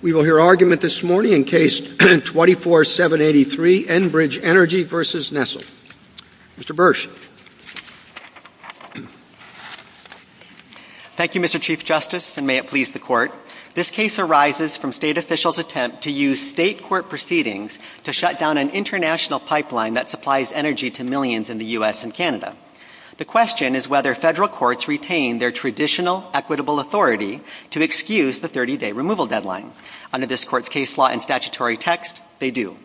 We will hear argument this morning in case 24783, Enbridge Energy v. Nessel. Mr. Bursch. Thank you, Mr. Chief Justice, and may it please the Court. This case arises from state officials' attempt to use state court proceedings to shut down an international pipeline that supplies energy to millions in the U.S. and Canada. The question is whether federal courts retain their traditional, equitable authority to excuse the 30-day removal deadline. Under this Court's case law and statutory text, they do.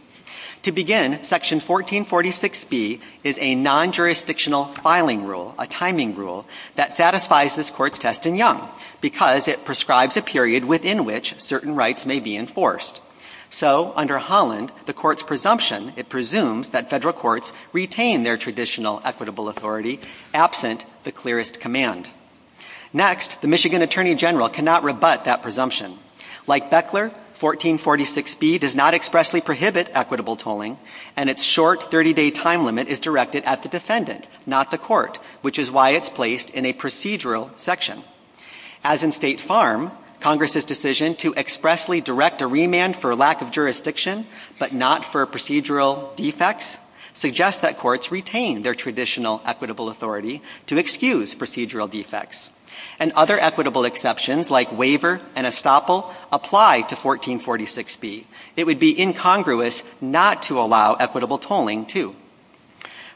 To begin, Section 1446B is a non-jurisdictional filing rule, a timing rule, that satisfies this Court's test in Young because it prescribes a period within which certain rights may be enforced. So under Holland, the Court's presumption, it presumes that federal courts retain their traditional, equitable authority absent the clearest command. Next, the Michigan Attorney General cannot rebut that presumption. Like Beckler, 1446B does not expressly prohibit equitable tolling, and its short 30-day time limit is directed at the defendant, not the Court, which is why it's placed in a procedural section. As in State Farm, Congress's decision to expressly direct a remand for lack of jurisdiction but not for procedural defects suggests that courts retain their traditional, equitable authority to excuse procedural defects. And other equitable exceptions, like waiver and estoppel, apply to 1446B. It would be incongruous not to allow equitable tolling, too.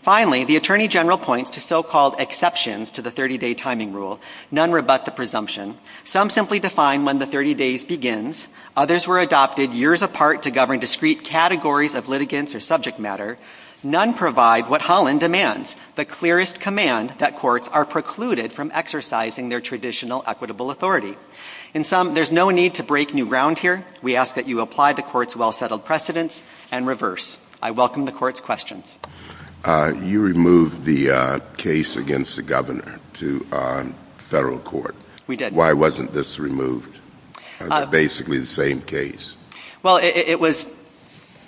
Finally, the Attorney General points to so-called exceptions to the 30-day timing rule. None rebut the presumption. Some simply define when the 30 days begins. Others were adopted years apart to govern discrete categories of litigants or subject matter. None provide what Holland demands, the clearest command that courts are precluded from exercising their traditional, equitable authority. In sum, there's no need to break new ground here. We ask that you apply the Court's well-settled precedents and reverse. I welcome the Court's questions. You removed the case against the Governor to federal court. We did. Why wasn't this removed? They're basically the same case. Well, it was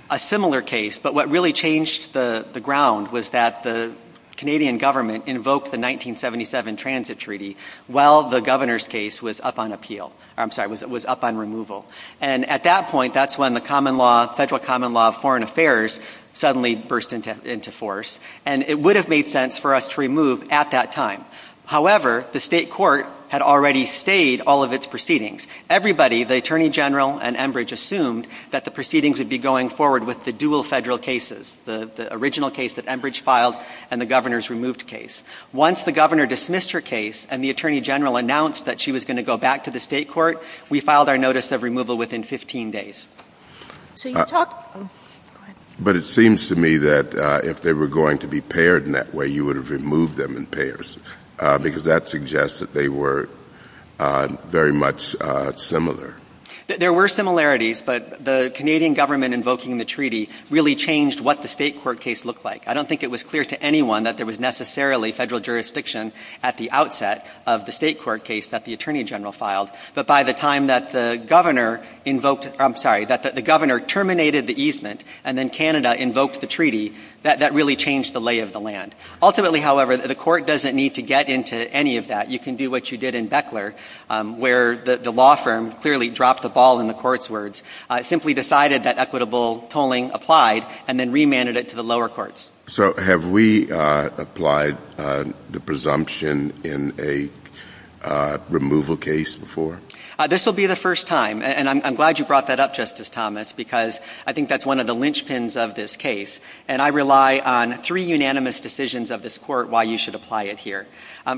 a similar case, but what really changed the ground was that the Canadian government invoked the 1977 Transit Treaty while the Governor's case was up on appeal. I'm sorry, was up on removal. And at that point, that's when the Federal Common Law of Foreign Affairs suddenly burst into force. And it would have made sense for us to remove at that time. However, the state court had already stayed all of its proceedings. Everybody, the Attorney General and Enbridge, assumed that the proceedings would be going forward with the dual federal cases, the original case that Enbridge filed and the Governor's removed case. Once the Governor dismissed her case and the Attorney General announced that she was going to go back to the state court, we filed our notice of removal within 15 days. But it seems to me that if they were going to be paired in that way, you would have removed them in pairs because that suggests that they were very much similar. There were similarities, but the Canadian government invoking the treaty really changed what the state court case looked like. I don't think it was clear to anyone that there was necessarily federal jurisdiction at the outset of the state court case that the Attorney General filed. But by the time that the Governor invoked, I'm sorry, that the Governor terminated the easement and then Canada invoked the treaty, that really changed the lay of the land. Ultimately, however, the court doesn't need to get into any of that. You can do what you did in Beckler, where the law firm clearly dropped the ball in the court's words, simply decided that equitable tolling applied and then remanded it to the lower courts. So have we applied the presumption in a removal case before? This will be the first time. And I'm glad you brought that up, Justice Thomas, because I think that's one of the linchpins of this case. And I rely on three unanimous decisions of this court why you should apply it here.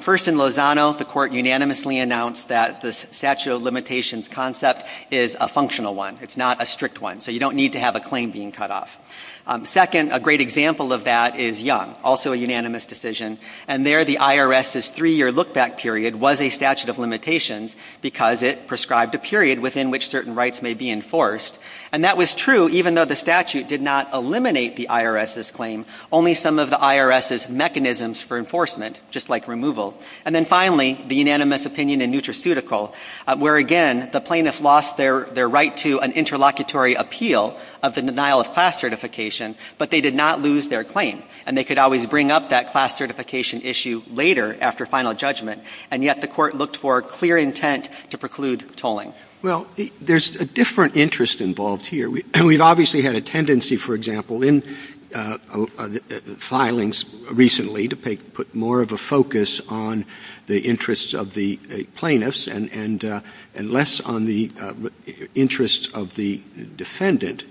First in Lozano, the court unanimously announced that the statute of limitations concept is a functional one. It's not a strict one. So you don't need to have a claim being cut off. Second, a great example of that is Young, also a unanimous decision. And there the IRS's three-year look-back period was a statute of limitations because it prescribed a period within which certain rights may be enforced. And that was true even though the statute did not eliminate the IRS's claim, only some of the IRS's mechanisms for enforcement, just like removal. And then finally, the unanimous opinion in Nutraceutical, where again, the plaintiff lost their right to an interlocutory appeal of the denial of class certification, but they did not lose their claim. And they could always bring up that class certification issue later after final judgment. And yet the court looked for clear intent to preclude tolling. Well, there's a different interest involved here. We've obviously had a tendency, for example, in filings recently to put more of a focus on the interests of the plaintiffs and less on the interests of the defendant.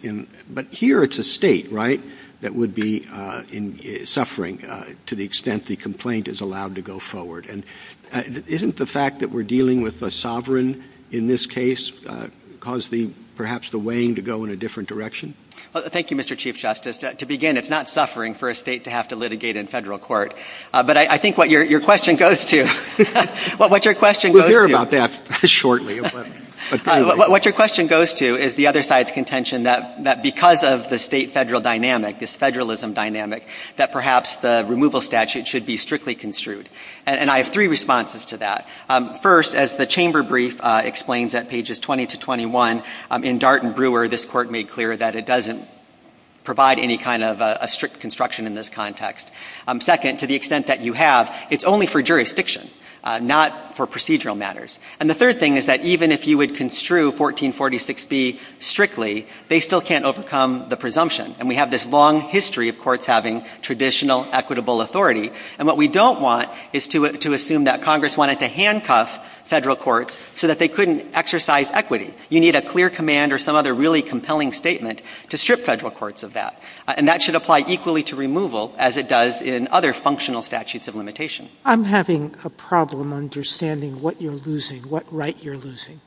But here it's a State, right, that would be suffering to the extent the complaint is allowed to go forward. And isn't the fact that we're dealing with a sovereign in this case cause the, perhaps the weighing to go in a different direction? Thank you, Mr. Chief Justice. To begin, it's not suffering for a State to have to litigate in Federal court. But I think what your question goes to, what your question goes to. We'll hear about that shortly. What your question goes to is the other side's contention that because of the State Federal dynamic, this Federalism dynamic, that perhaps the removal statute should be strictly construed. And I have three responses to that. First, as the Chamber brief explains at pages 20 to 21, in Dart and Brewer, this Court made clear that it doesn't provide any kind of a strict construction in this context. Second, to the extent that you have, it's only for jurisdiction, not for procedural matters. And the third thing is that even if you would construe 1446B strictly, they still can't overcome the presumption. And we have this long history of courts having traditional equitable authority. And what we don't want is to assume that Congress wanted to handcuff Federal courts so that they couldn't exercise equity. You need a clear command or some other really compelling statement to strip Federal courts of that. And that should apply equally to removal as it does in other functional statutes of limitation. I'm having a problem understanding what you're losing, what right you're losing.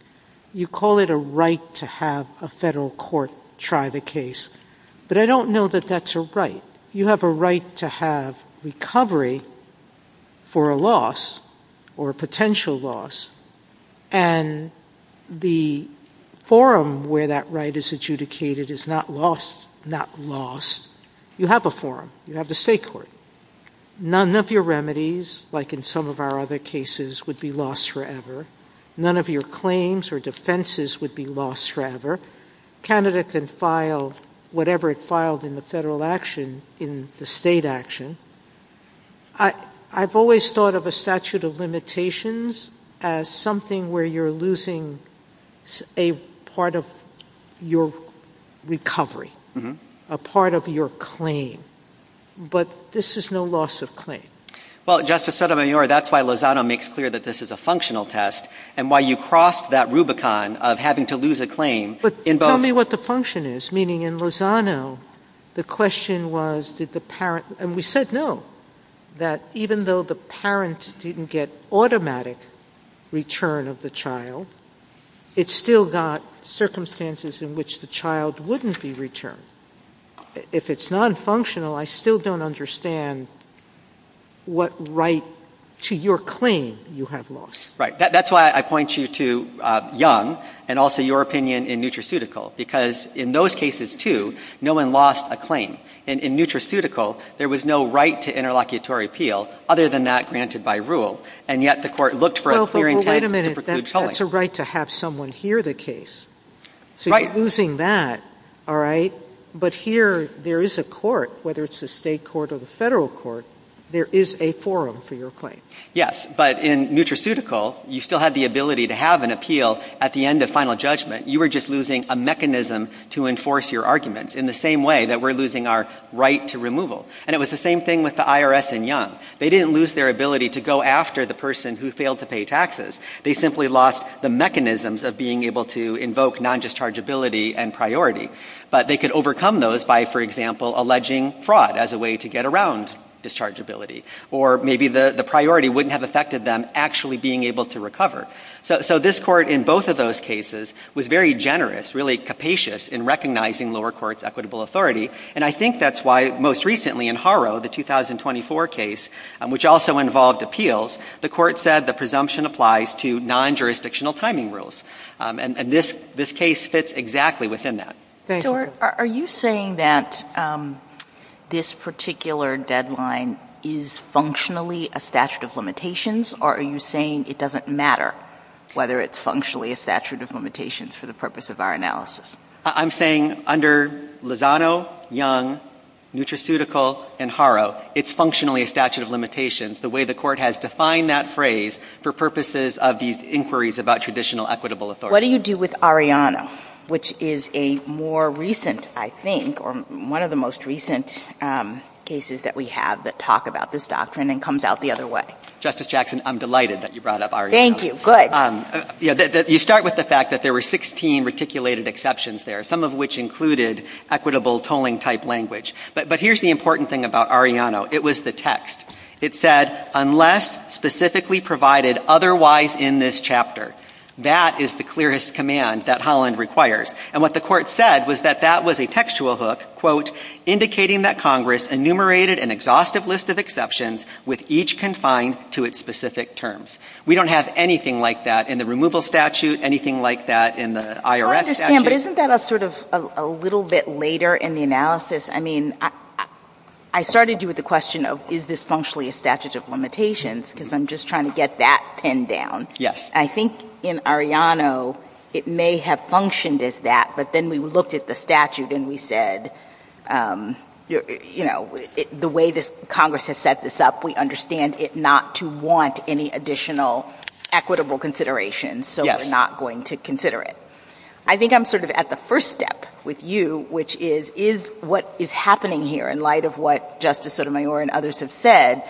You call it a right to have a Federal court try the case. But I don't know that that's a right. You have a right to have recovery for a loss or a potential loss. And the forum where that right is adjudicated is not lost, not lost. You have a forum. You have the State court. None of your remedies, like in some of our other cases, would be lost forever. None of your claims or defenses would be lost forever. Canada can file whatever it filed in the Federal action in the State action. I've always thought of a statute of limitations as something where you're losing a part of your recovery, a part of your claim. But this is no loss of claim. Well, Justice Sotomayor, that's why Lozano makes clear that this is a functional test and why you crossed that Rubicon of having to lose a claim. But tell me what the function is, meaning in Lozano, the question was did the parent and we said no, that even though the parent didn't get automatic return of the child, it still got circumstances in which the child wouldn't be returned. If it's nonfunctional, I still don't understand what right to your claim you have lost. Right. That's why I point you to Young and also your opinion in Nutraceutical. Because in those cases too, no one lost a claim. In Nutraceutical, there was no right to interlocutory appeal other than that granted by rule. And yet the court looked for a clear intent to preclude tolling. That's a right to have someone hear the case. So you're losing that, all right. But here there is a court, whether it's the State court or the Federal court, there is a forum for your claim. Yes. But in Nutraceutical, you still had the ability to have an appeal at the end of final judgment. You were just losing a mechanism to enforce your arguments in the same way that we're losing our right to removal. And it was the same thing with the IRS in Young. They didn't lose their ability to go after the person who failed to pay taxes. They simply lost the mechanisms of being able to invoke non-dischargeability and priority. But they could overcome those by, for example, alleging fraud as a way to get around dischargeability. Or maybe the priority wouldn't have affected them actually being able to recover. So this court in both of those cases was very generous, really capacious in recognizing lower courts' equitable authority. And I think that's why most recently in Haro, the 2024 case, which also involved appeals, the court said the presumption applies to non-jurisdictional timing rules. And this case fits exactly within that. So are you saying that this particular deadline is functionally a statute of limitations? Or are you saying it doesn't matter whether it's functionally a statute of limitations for the purpose of our analysis? I'm saying under Lozano, Young, Nutraceutical, and Haro, it's functionally a statute of limitations. The way the court has defined that phrase for purposes of these inquiries about traditional equitable authority. What do you do with Arellano? Which is a more recent, I think, or one of the most recent cases that we have that talk about this doctrine and comes out the other way. Justice Jackson, I'm delighted that you brought up Arellano. Thank you. Good. You start with the fact that there were 16 reticulated exceptions there, some of which included equitable tolling type language. But here's the important thing about Arellano. It was the text. It said, unless specifically provided otherwise in this chapter. That is the clearest command that Holland requires. And what the court said was that that was a textual hook, quote, indicating that Congress enumerated an exhaustive list of exceptions with each confined to its specific terms. We don't have anything like that in the removal statute, anything like that in the IRS statute. I understand, but isn't that a sort of a little bit later in the analysis? I mean, I started you with the question of, is this functionally a statute of limitations? Because I'm just trying to get that pinned down. Yes. I think in Arellano, it may have functioned as that. But then we looked at the statute and we said, you know, the way this Congress has set this up, we understand it not to want any additional equitable consideration. So we're not going to consider it. I think I'm sort of at the first step with you, which is, is what is happening here in light of what Justice Sotomayor and others have said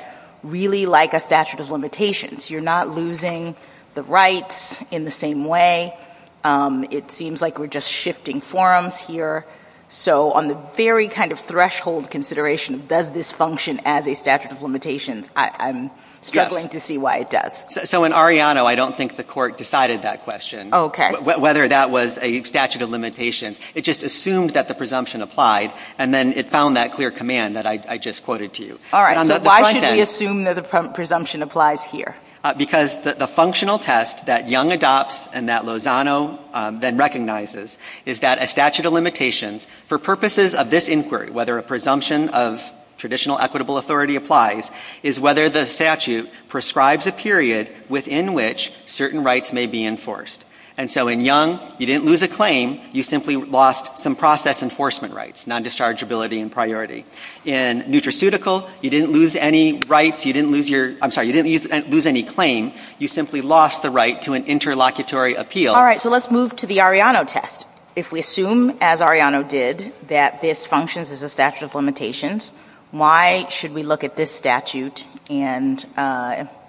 really like a statute of limitations? You're not losing the rights in the same way. It seems like we're just shifting forums here. So on the very kind of threshold consideration, does this function as a statute of limitations? I'm struggling to see why it does. So in Arellano, I don't think the court decided that question. Oh, okay. Whether that was a statute of limitations. It just assumed that the presumption applied, and then it found that clear command that I just quoted to you. All right. So why should we assume that the presumption applies here? Because the functional test that Young adopts and that Lozano then recognizes is that a statute of limitations for purposes of this inquiry, whether a presumption of traditional equitable authority applies, is whether the statute prescribes a period within which certain rights may be enforced. And so in Young, you didn't lose a claim. You simply lost some process enforcement rights, non-dischargeability and priority. In Nutraceutical, you didn't lose any rights, you didn't lose your, I'm sorry, you didn't lose any claim. You simply lost the right to an interlocutory appeal. All right. So let's move to the Arellano test. If we assume, as Arellano did, that this functions as a statute of limitations, why should we look at this statute and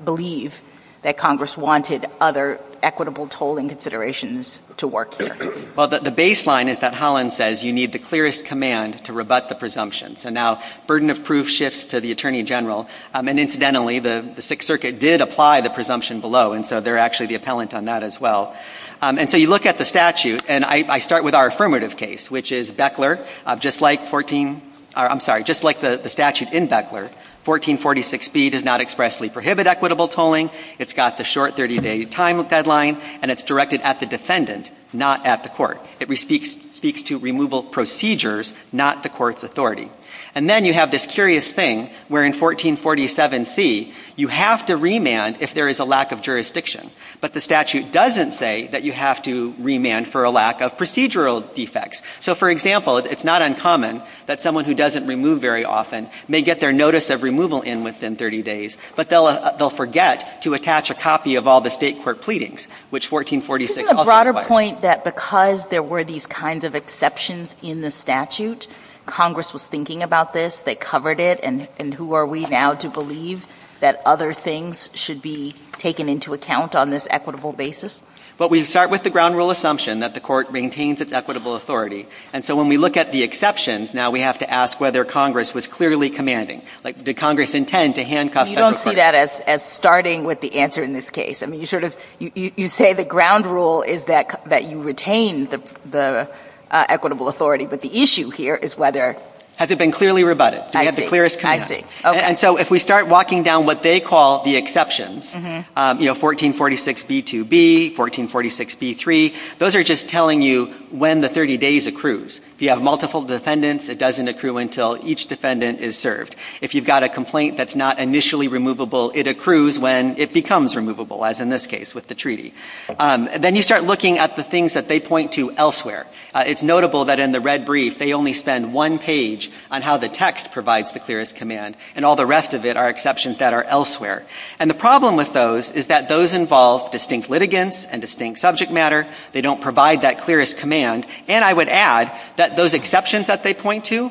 believe that Congress wanted other equitable tolling considerations to work here? Well, the baseline is that Holland says you need the clearest command to rebut the presumption. So now, burden of proof shifts to the Attorney General. And incidentally, the Sixth Circuit did apply the presumption below, and so they're actually the appellant on that as well. And so you look at the statute, and I start with our affirmative case, which is Beckler. Just like 14, I'm sorry, just like the statute in Beckler, 1446B does not expressly prohibit equitable tolling. It's got the short 30-day time deadline, and it's directed at the defendant, not at the court. It speaks to removal procedures, not the court's authority. And then you have this curious thing where in 1447C, you have to remand if there is a lack of jurisdiction. But the statute doesn't say that you have to remand for a lack of procedural defects. So, for example, it's not uncommon that someone who doesn't remove very often may get their notice of removal in within 30 days, but they'll forget to attach a copy of all the State court pleadings, which 1446 also requires. Isn't the broader point that because there were these kinds of exceptions in the statute, Congress was thinking about this, they covered it, and who are we now to believe that other things should be taken into account on this equitable basis? But we start with the ground rule assumption that the court maintains its equitable authority. And so when we look at the exceptions, now we have to ask whether Congress was clearly commanding. Like, did Congress intend to handcuff federal court? But you don't see that as starting with the answer in this case. I mean, you sort of — you say the ground rule is that you retain the equitable authority, but the issue here is whether — Has it been clearly rebutted? I see. Do we have the clearest command? I see. Okay. And so if we start walking down what they call the exceptions, you know, 1446b2b, 1446b3, those are just telling you when the 30 days accrues. If you have multiple defendants, it doesn't accrue until each defendant is served. If you've got a complaint that's not initially removable, it accrues when it becomes removable, as in this case with the treaty. Then you start looking at the things that they point to elsewhere. It's notable that in the red brief, they only spend one page on how the text provides the clearest command, and all the rest of it are exceptions that are elsewhere. And the problem with those is that those involve distinct litigants and distinct subject matter. They don't provide that clearest command. And I would add that those exceptions that they point to,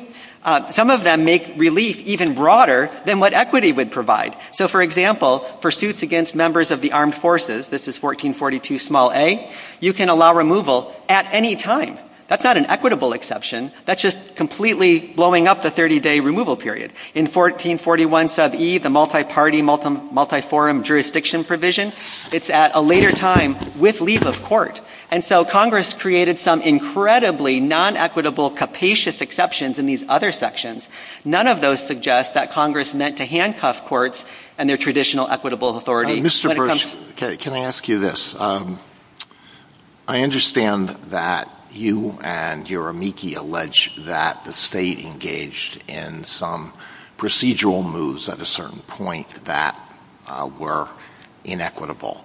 some of them make relief even broader than what equity would provide. So for example, pursuits against members of the armed forces, this is 1442 small a, you can allow removal at any time. That's not an equitable exception. That's just completely blowing up the 30-day removal period. In 1441 sub e, the multi-party, multi-forum jurisdiction provision, it's at a later time with leave of court. And so Congress created some incredibly non-equitable capacious exceptions in these other sections. None of those suggest that Congress meant to handcuff courts and their traditional equitable authority. Mr. Bursch, can I ask you this? I understand that you and your amici allege that the state engaged in some procedural moves at a certain point that were inequitable.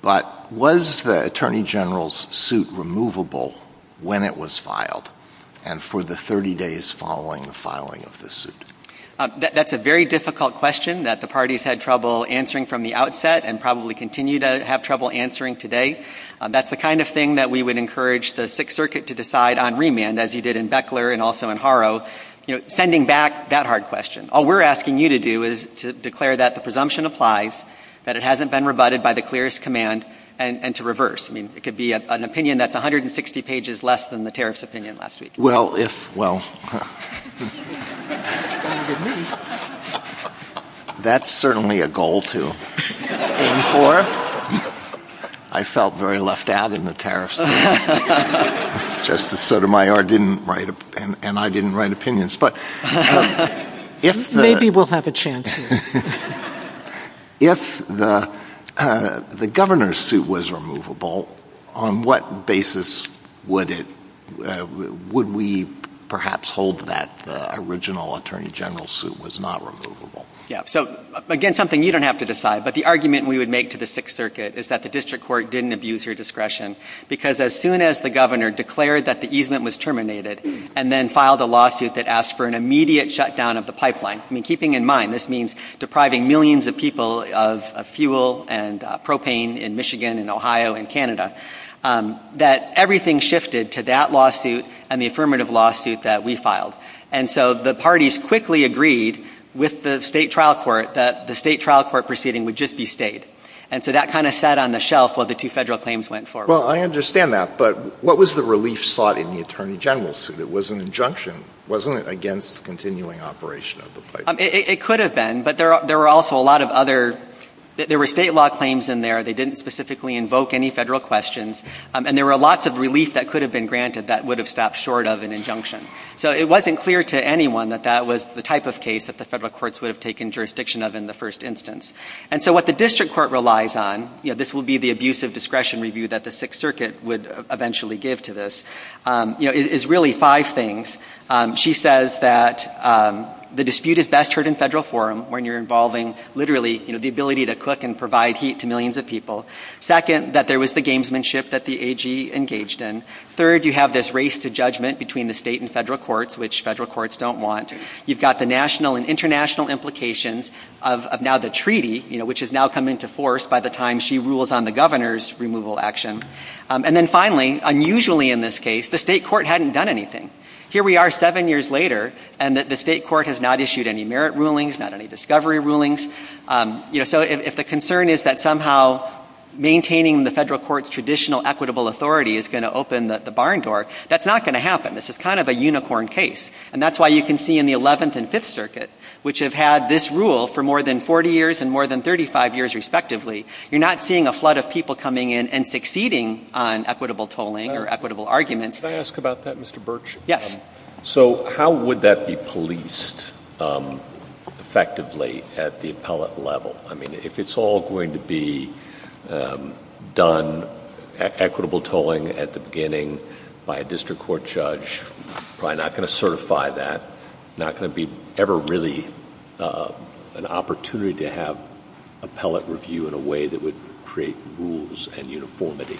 But was the attorney general's suit removable when it was filed? And for the 30 days following the filing of the suit? That's a very difficult question that the parties had trouble answering from the outset and probably continue to have trouble answering today. That's the kind of thing that we would encourage the Sixth Circuit to decide on remand, as he did in Beckler and also in Haro, you know, sending back that hard question. All we're asking you to do is to declare that the presumption applies, that it hasn't been rebutted by the clearest command, and to reverse. I mean, it could be an opinion that's 160 pages less than the tariff's opinion last week. Well, if, well, that's certainly a goal to aim for. I felt very left out in the tariff's opinion. Justice Sotomayor didn't write, and I didn't write opinions. But if the... Maybe we'll have a chance here. If the governor's suit was removable, on what basis would it, would we perhaps hold that the original attorney general's suit was not removable? Yeah. So, again, something you don't have to decide. But the argument we would make to the Sixth Circuit is that the district court didn't abuse your discretion. Because as soon as the governor declared that the easement was terminated, and then filed a lawsuit that asked for an immediate shutdown of the pipeline. I mean, keeping in mind, this means depriving millions of people of fuel and propane in Michigan and Ohio and Canada. That everything shifted to that lawsuit and the affirmative lawsuit that we filed. And so the parties quickly agreed with the State trial court that the State trial court proceeding would just be stayed. And so that kind of sat on the shelf while the two Federal claims went forward. Well, I understand that. But what was the relief sought in the attorney general's suit? It was an injunction. Wasn't it against continuing operation of the pipeline? It could have been. But there were also a lot of other, there were State law claims in there. They didn't specifically invoke any Federal questions. And there were lots of relief that could have been granted that would have stopped short of an injunction. So it wasn't clear to anyone that that was the type of case that the Federal courts would have taken jurisdiction of in the first instance. And so what the district court relies on, you know, this will be the abuse of discretion review that the Sixth Circuit would eventually give to this. You know, it's really five things. She says that the dispute is best heard in Federal forum when you're involving literally, you know, the ability to cook and provide heat to millions of people. Second, that there was the gamesmanship that the AG engaged in. Third, you have this race to judgment between the State and Federal courts, which Federal courts don't want. You've got the national and international implications of now the treaty, you know, which has now come into force by the time she rules on the Governor's removal action. And then finally, unusually in this case, the State court hadn't done anything. Here we are seven years later and the State court has not issued any merit rulings, not any discovery rulings. You know, so if the concern is that somehow maintaining the Federal court's traditional equitable authority is going to open the barn door, that's not going to happen. This is kind of a unicorn case. And that's why you can see in the Eleventh and Fifth Circuit, which have had this rule for more than 40 years and more than 35 years respectively, you're not seeing a flood of people coming in and succeeding on equitable tolling or equitable arguments. Can I ask about that, Mr. Birch? Yes. So how would that be policed effectively at the appellate level? I mean, if it's all going to be done, equitable tolling at the beginning by a district court judge, probably not going to certify that, not going to be ever really an opportunity to have appellate review in a way that would create rules and uniformity.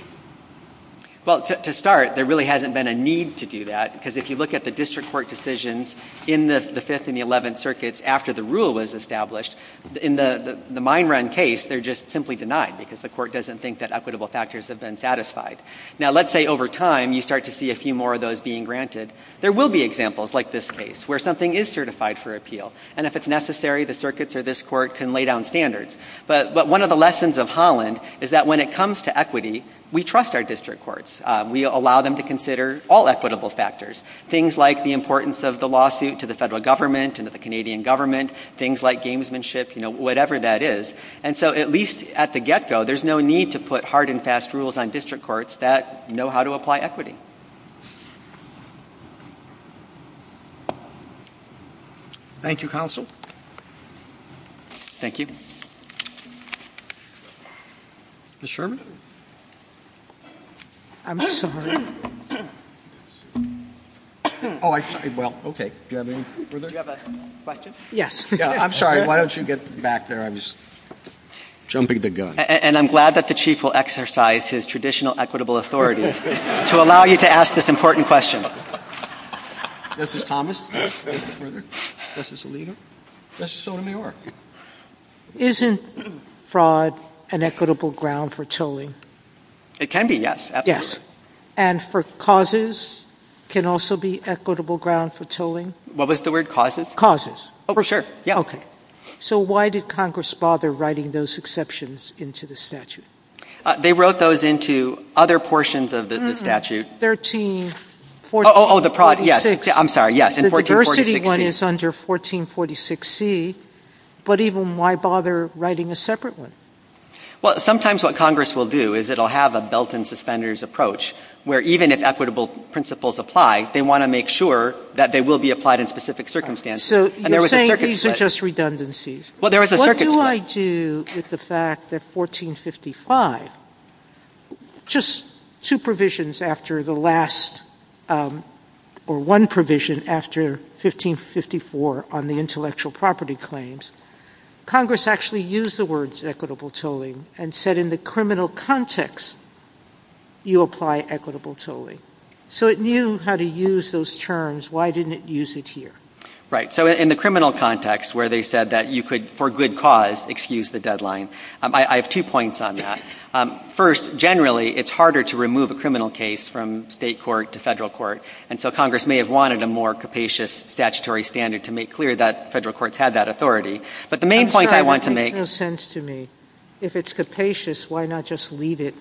Well, to start, there really hasn't been a need to do that because if you look at the district court decisions in the Fifth and the Eleventh Circuits after the rule was established, in the Mine Run case, they're just simply denied because the court doesn't think that equitable factors have been satisfied. Now, let's say over time you start to see a few more of those being granted. There will be examples like this case where something is certified for appeal and if it's necessary, the circuits or this court can lay down standards. But one of the lessons of Holland is that when it comes to equity, we trust our district courts. We allow them to consider all equitable factors, things like the importance of the lawsuit to the federal government and to the Canadian government, things like gamesmanship, whatever that is. And so at least at the get-go, there's no need to put hard and fast rules on district courts that know how to apply equity. Thank you, Counsel. Thank you. Ms. Sherman? I'm sorry. Oh, I'm sorry. Well, okay. Do you have any further? Do you have a question? Yes. Yeah, I'm sorry. Why don't you get back there? I'm just jumping the gun. And I'm glad that the Chief will exercise his traditional equitable authority to allow you to ask this important question. Justice Thomas? Justice Alito? Justice Sotomayor? Isn't fraud an equitable ground for tolling? It can be, yes. Yes. And for causes, can also be equitable ground for tolling? What was the word? Causes. Oh, sure. Yeah. Okay. So why did Congress bother writing those exceptions into the statute? They wrote those into other portions of the statute. 1346. Oh, yes. I'm sorry. Yes. In 1446C. The diversity one is under 1446C. But even why bother writing a separate one? Well, sometimes what Congress will do is it will have a belt and suspenders approach where even if equitable principles apply, they want to make sure that they will be applied in specific circumstances. And there was a circuit split. So you're saying these are just redundancies. Well, there was a circuit split. What do I do with the fact that 1455, just two provisions after the last or one provision after 1554 on the intellectual property claims, Congress actually used the words equitable tolling and said in the criminal context, you apply equitable tolling. So it knew how to use those terms. Why didn't it use it here? Right. So in the criminal context where they said that you could, for good cause, excuse the deadline, I have two points on that. First, generally, it's harder to remove a criminal case from state court to federal court. And so Congress may have wanted a more capacious statutory standard to make clear that federal courts had that authority. But the main point I want to make. It makes no sense to me. If it's capacious, why not just leave it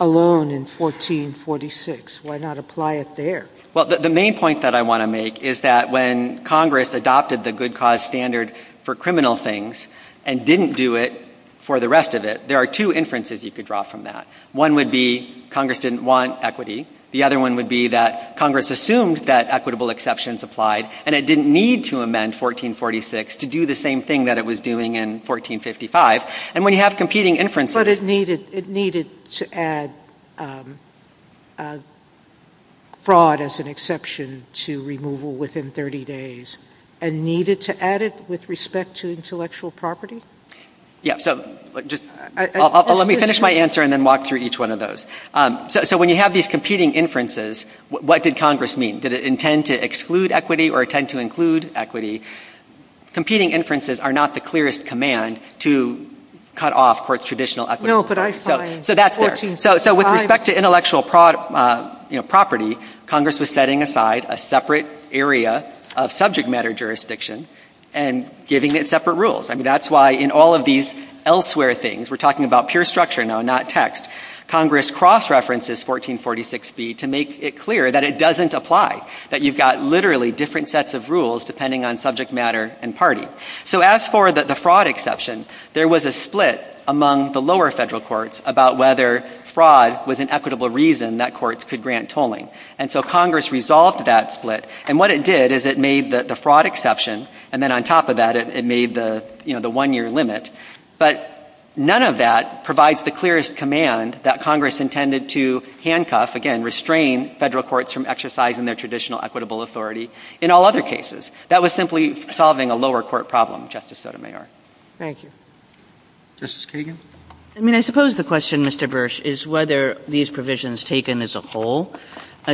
alone in 1446? Why not apply it there? Well, the main point that I want to make is that when Congress adopted the good cause standard for criminal things and didn't do it for the rest of it, there are two inferences you could draw from that. One would be Congress didn't want equity. The other one would be that Congress assumed that equitable exceptions applied and it didn't need to amend 1446 to do the same thing that it was doing in 1455. And when you have competing inferences. But it needed to add fraud as an exception to removal within 30 days and needed to add it with respect to intellectual property? Yeah, so just let me finish my answer and then walk through each one of those. So when you have these competing inferences, what did Congress mean? Did it intend to exclude equity or intend to include equity? Competing inferences are not the clearest command to cut off court's traditional equity. No, but I find 1455. So that's there. So with respect to intellectual property, Congress was setting aside a separate area of subject matter jurisdiction and giving it separate rules. I mean, that's why in all of these elsewhere things, we're talking about pure structure now, not text. Congress cross-references 1446B to make it clear that it doesn't apply, that you've got literally different sets of rules depending on subject matter and party. So as for the fraud exception, there was a split among the lower federal courts about whether fraud was an equitable reason that courts could grant tolling. And so Congress resolved that split. And what it did is it made the fraud exception. And then on top of that, it made the one-year limit. But none of that provides the clearest command that Congress intended to handcuff, again, restrain federal courts from exercising their traditional equitable authority in all other cases. That was simply solving a lower court problem, Justice Sotomayor. Thank you. Justice Kagan? I mean, I suppose the question, Mr. Bursch, is whether these provisions taken as a whole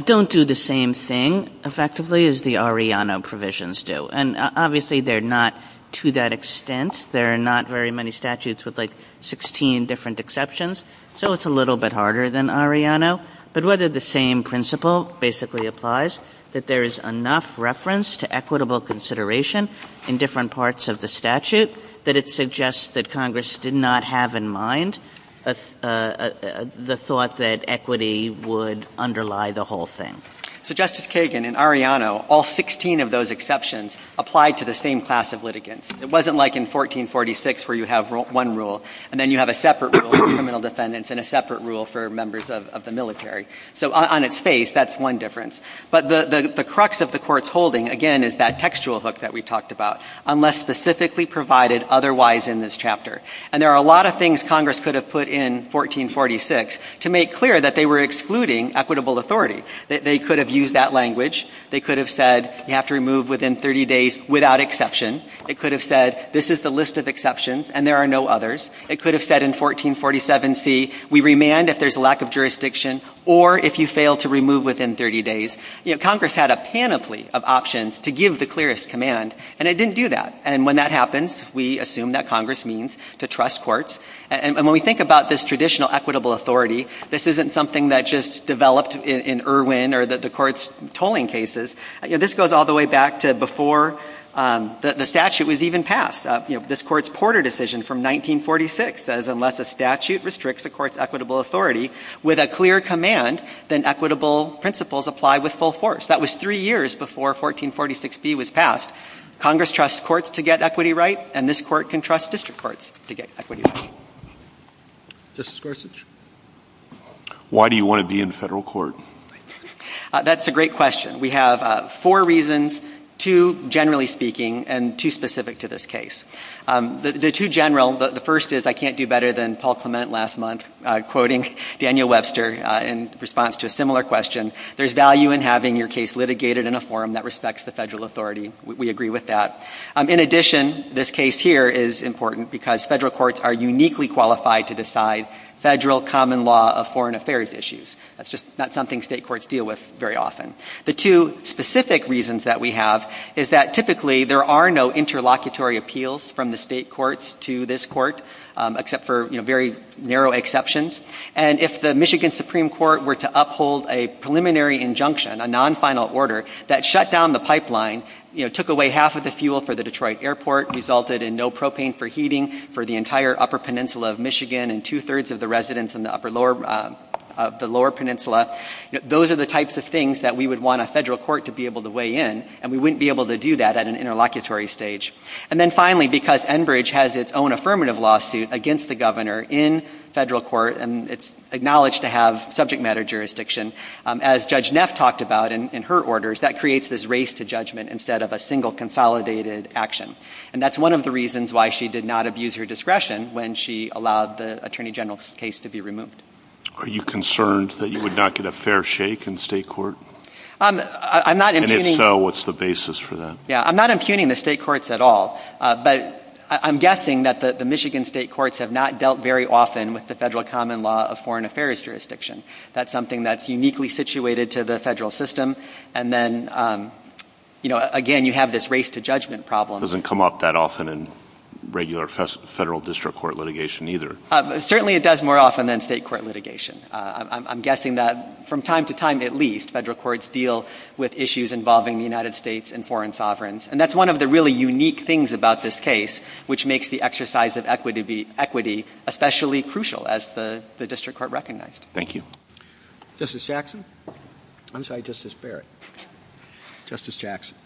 don't do the same thing effectively as the Arellano provisions do. And obviously, they're not to that extent. There are not very many statutes with, like, 16 different exceptions. So it's a little bit harder than Arellano. But whether the same principle basically applies, that there is enough reference to equitable consideration in different parts of the statute, that it suggests that Congress did not have in mind the thought that equity would underlie the whole thing. So, Justice Kagan, in Arellano, all 16 of those exceptions applied to the same class of litigants. It wasn't like in 1446 where you have one rule, and then you have a separate rule for criminal defendants and a separate rule for members of the military. So on its face, that's one difference. But the crux of the Court's holding, again, is that textual hook that we talked about, unless specifically provided otherwise in this chapter. And there are a lot of things Congress could have put in 1446 to make clear that they were excluding equitable authority. They could have used that language. They could have said, you have to remove within 30 days without exception. It could have said, this is the list of exceptions, and there are no others. It could have said in 1447C, we remand if there's a lack of jurisdiction or if you fail to remove within 30 days. Congress had a panoply of options to give the clearest command, and it didn't do that. And when that happens, we assume that Congress means to trust courts. And when we think about this traditional equitable authority, this isn't something that just developed in Irwin or the Court's tolling cases. This goes all the way back to before the statute was even passed. You know, this Court's Porter decision from 1946 says, unless a statute restricts the Court's equitable authority with a clear command, then equitable principles apply with full force. That was three years before 1446B was passed. Congress trusts courts to get equity right, and this Court can trust district courts to get equity right. Justice Gorsuch? Why do you want to be in federal court? That's a great question. We have four reasons, two generally speaking and two specific to this case. The two general, the first is I can't do better than Paul Clement last month quoting Daniel Webster in response to a similar question, there's value in having your case litigated in a forum that respects the federal authority. We agree with that. In addition, this case here is important because federal courts are uniquely qualified to decide federal common law of foreign affairs issues. That's just not something state courts deal with very often. The two specific reasons that we have is that typically there are no interlocutory appeals from the state courts to this court, except for, you know, very narrow exceptions. And if the Michigan Supreme Court were to uphold a preliminary injunction, a non-final order, that shut down the pipeline, you know, took away half of the fuel for the Detroit airport, resulted in no propane for heating for the entire upper peninsula of Michigan and two-thirds of the residents in the lower peninsula. Those are the types of things that we would want a federal court to be able to weigh in, and we wouldn't be able to do that at an interlocutory stage. And then finally, because Enbridge has its own affirmative lawsuit against the governor in federal court, and it's acknowledged to have subject matter jurisdiction, as Judge Neff talked about in her orders, that creates this race to judgment instead of a single consolidated action. And that's one of the reasons why she did not abuse her discretion when she allowed the Attorney General's case to be removed. Are you concerned that you would not get a fair shake in state court? I'm not impugning... And if so, what's the basis for that? Yeah, I'm not impugning the state courts at all. But I'm guessing that the Michigan state courts have not dealt very often with the federal common law of foreign affairs jurisdiction. That's something that's uniquely situated to the federal system. And then, you know, again, you have this race to judgment problem. It doesn't come up that often in regular federal district court litigation either. Certainly it does more often than state court litigation. I'm guessing that from time to time, at least, federal courts deal with issues involving the United States and foreign sovereigns. And that's one of the really unique things about this case, which makes the exercise of equity especially crucial, as the district court recognized. Thank you. Justice Jackson. I'm sorry, Justice Barrett. Justice Jackson.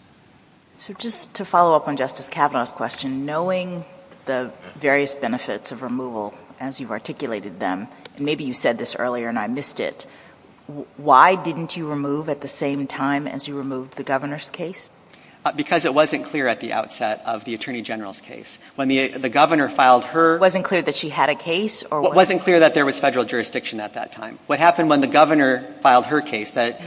So just to follow up on Justice Kavanaugh's question, knowing the various benefits of removal as you've articulated them, and maybe you said this earlier and I missed it, why didn't you remove at the same time as you removed the governor's case? Because it wasn't clear at the outset of the Attorney General's case. When the governor filed her... It wasn't clear that she had a case or... It wasn't clear that there was federal jurisdiction at that time. What happened when the governor filed her case, that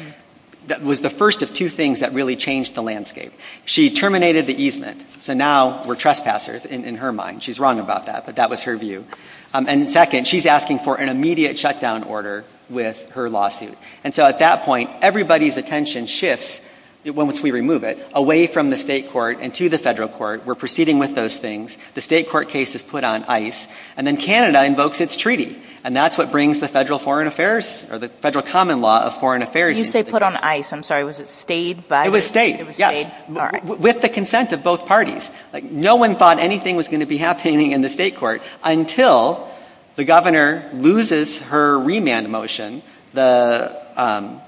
was the first of two things that really changed the landscape. She terminated the easement. So now we're trespassers, in her mind. She's wrong about that, but that was her view. And second, she's asking for an immediate shutdown order with her lawsuit. And so at that point, everybody's attention shifts, once we remove it, away from the state court and to the federal court. We're proceeding with those things. The state court case is put on ice. And then Canada invokes its treaty. And that's what brings the federal foreign affairs, or the federal common law of foreign affairs into the case. You say put on ice. I'm sorry. Was it stayed by the... It was stayed, yes. It was stayed. All right. With the consent of both parties. No one thought anything was going to be happening in the state court until the governor loses her remand motion, the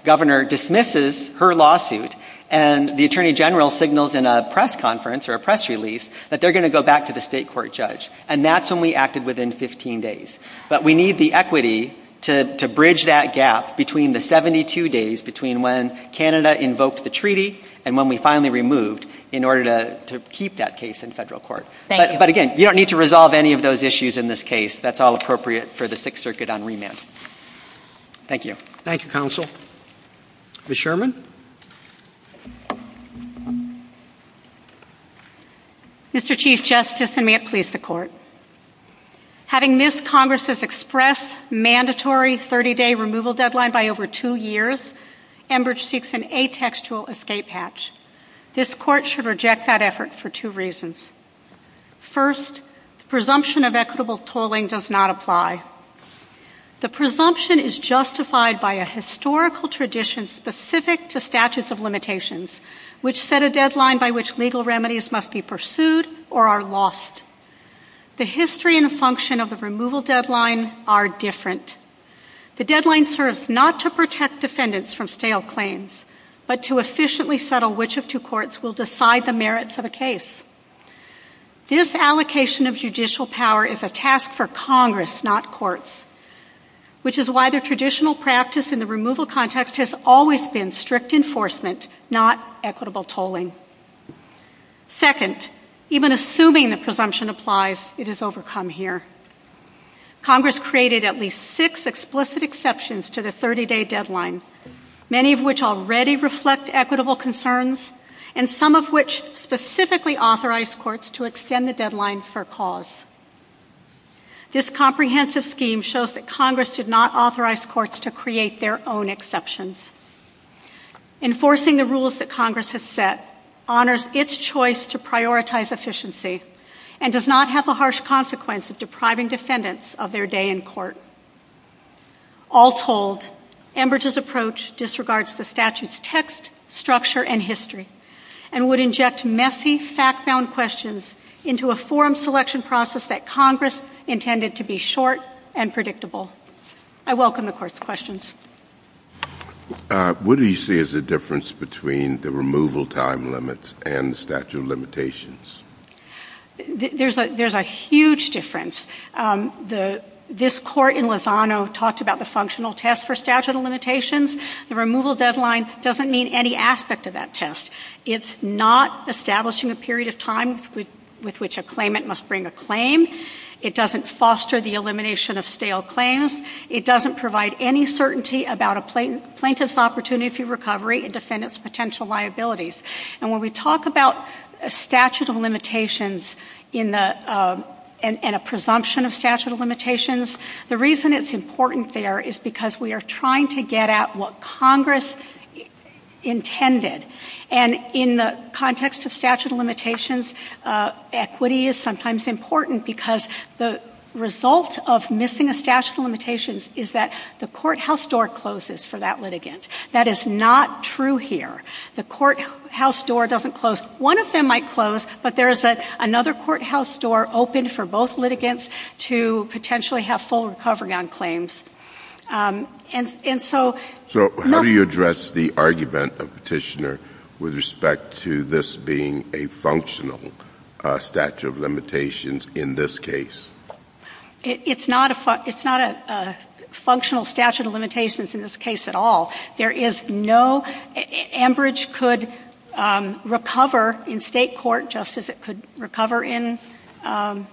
governor dismisses her lawsuit, and the Attorney General signals in a press conference or a press release that they're going to go back to the state court judge. And that's when we acted within 15 days. But we need the equity to bridge that gap between the 72 days between when Canada invoked the treaty and when we finally removed in order to keep that case in federal court. Thank you. But again, you don't need to resolve any of those issues in this case. That's all appropriate for the Sixth Circuit on remand. Thank you. Thank you, counsel. Ms. Sherman. Mr. Chief Justice, and may it please the court, having missed Congress's express mandatory 30-day removal deadline by over two years, Enbridge seeks an atextual escape hatch. This court should reject that effort for two reasons. First, the presumption of equitable tolling does not apply. The presumption is justified by a historical tradition specific to statutes of limitations, which set a deadline by which legal remedies must be pursued or are lost. The history and function of the removal deadline are different. The deadline serves not to protect defendants from stale claims, but to efficiently settle which of two courts will decide the merits of a case. This allocation of judicial power is a task for Congress, not courts, which is why the traditional practice in the removal context has always been strict enforcement, not equitable tolling. Second, even assuming the presumption applies, it is overcome here. Congress created at least six explicit exceptions to the 30-day deadline, many of which already reflect equitable concerns and some of which specifically authorize courts to extend the deadline for cause. This comprehensive scheme shows that Congress did not authorize courts to create their own exceptions. Enforcing the rules that Congress has set honors its choice to prioritize efficiency and does not have the harsh consequence of depriving defendants of their day in court. All told, Enbridge's approach disregards the statute's text, structure, and history and would inject messy, fact-bound questions into a forum selection process that Congress intended to be short and predictable. I welcome the Court's questions. What do you see as the difference between the removal time limits and the statute of limitations? There's a huge difference. This Court in Lozano talked about the functional test for statute of limitations. The removal deadline doesn't mean any aspect of that test. It's not establishing a period of time with which a claimant must bring a claim. It doesn't foster the elimination of stale claims. It doesn't provide any certainty about a plaintiff's opportunity for recovery and defendants' potential liabilities. And when we talk about statute of limitations and a presumption of statute of limitations, the reason it's important there is because we are trying to get at what Congress intended. And in the context of statute of limitations, equity is sometimes important because the result of missing a statute of limitations is that the courthouse door closes for that litigant. That is not true here. The courthouse door doesn't close. One of them might close, but there is another courthouse door open for both litigants to potentially have full recovery on claims. And so not — It's not a functional statute of limitations in this case at all. There is no — Ambridge could recover in State court just as it could recover in Federal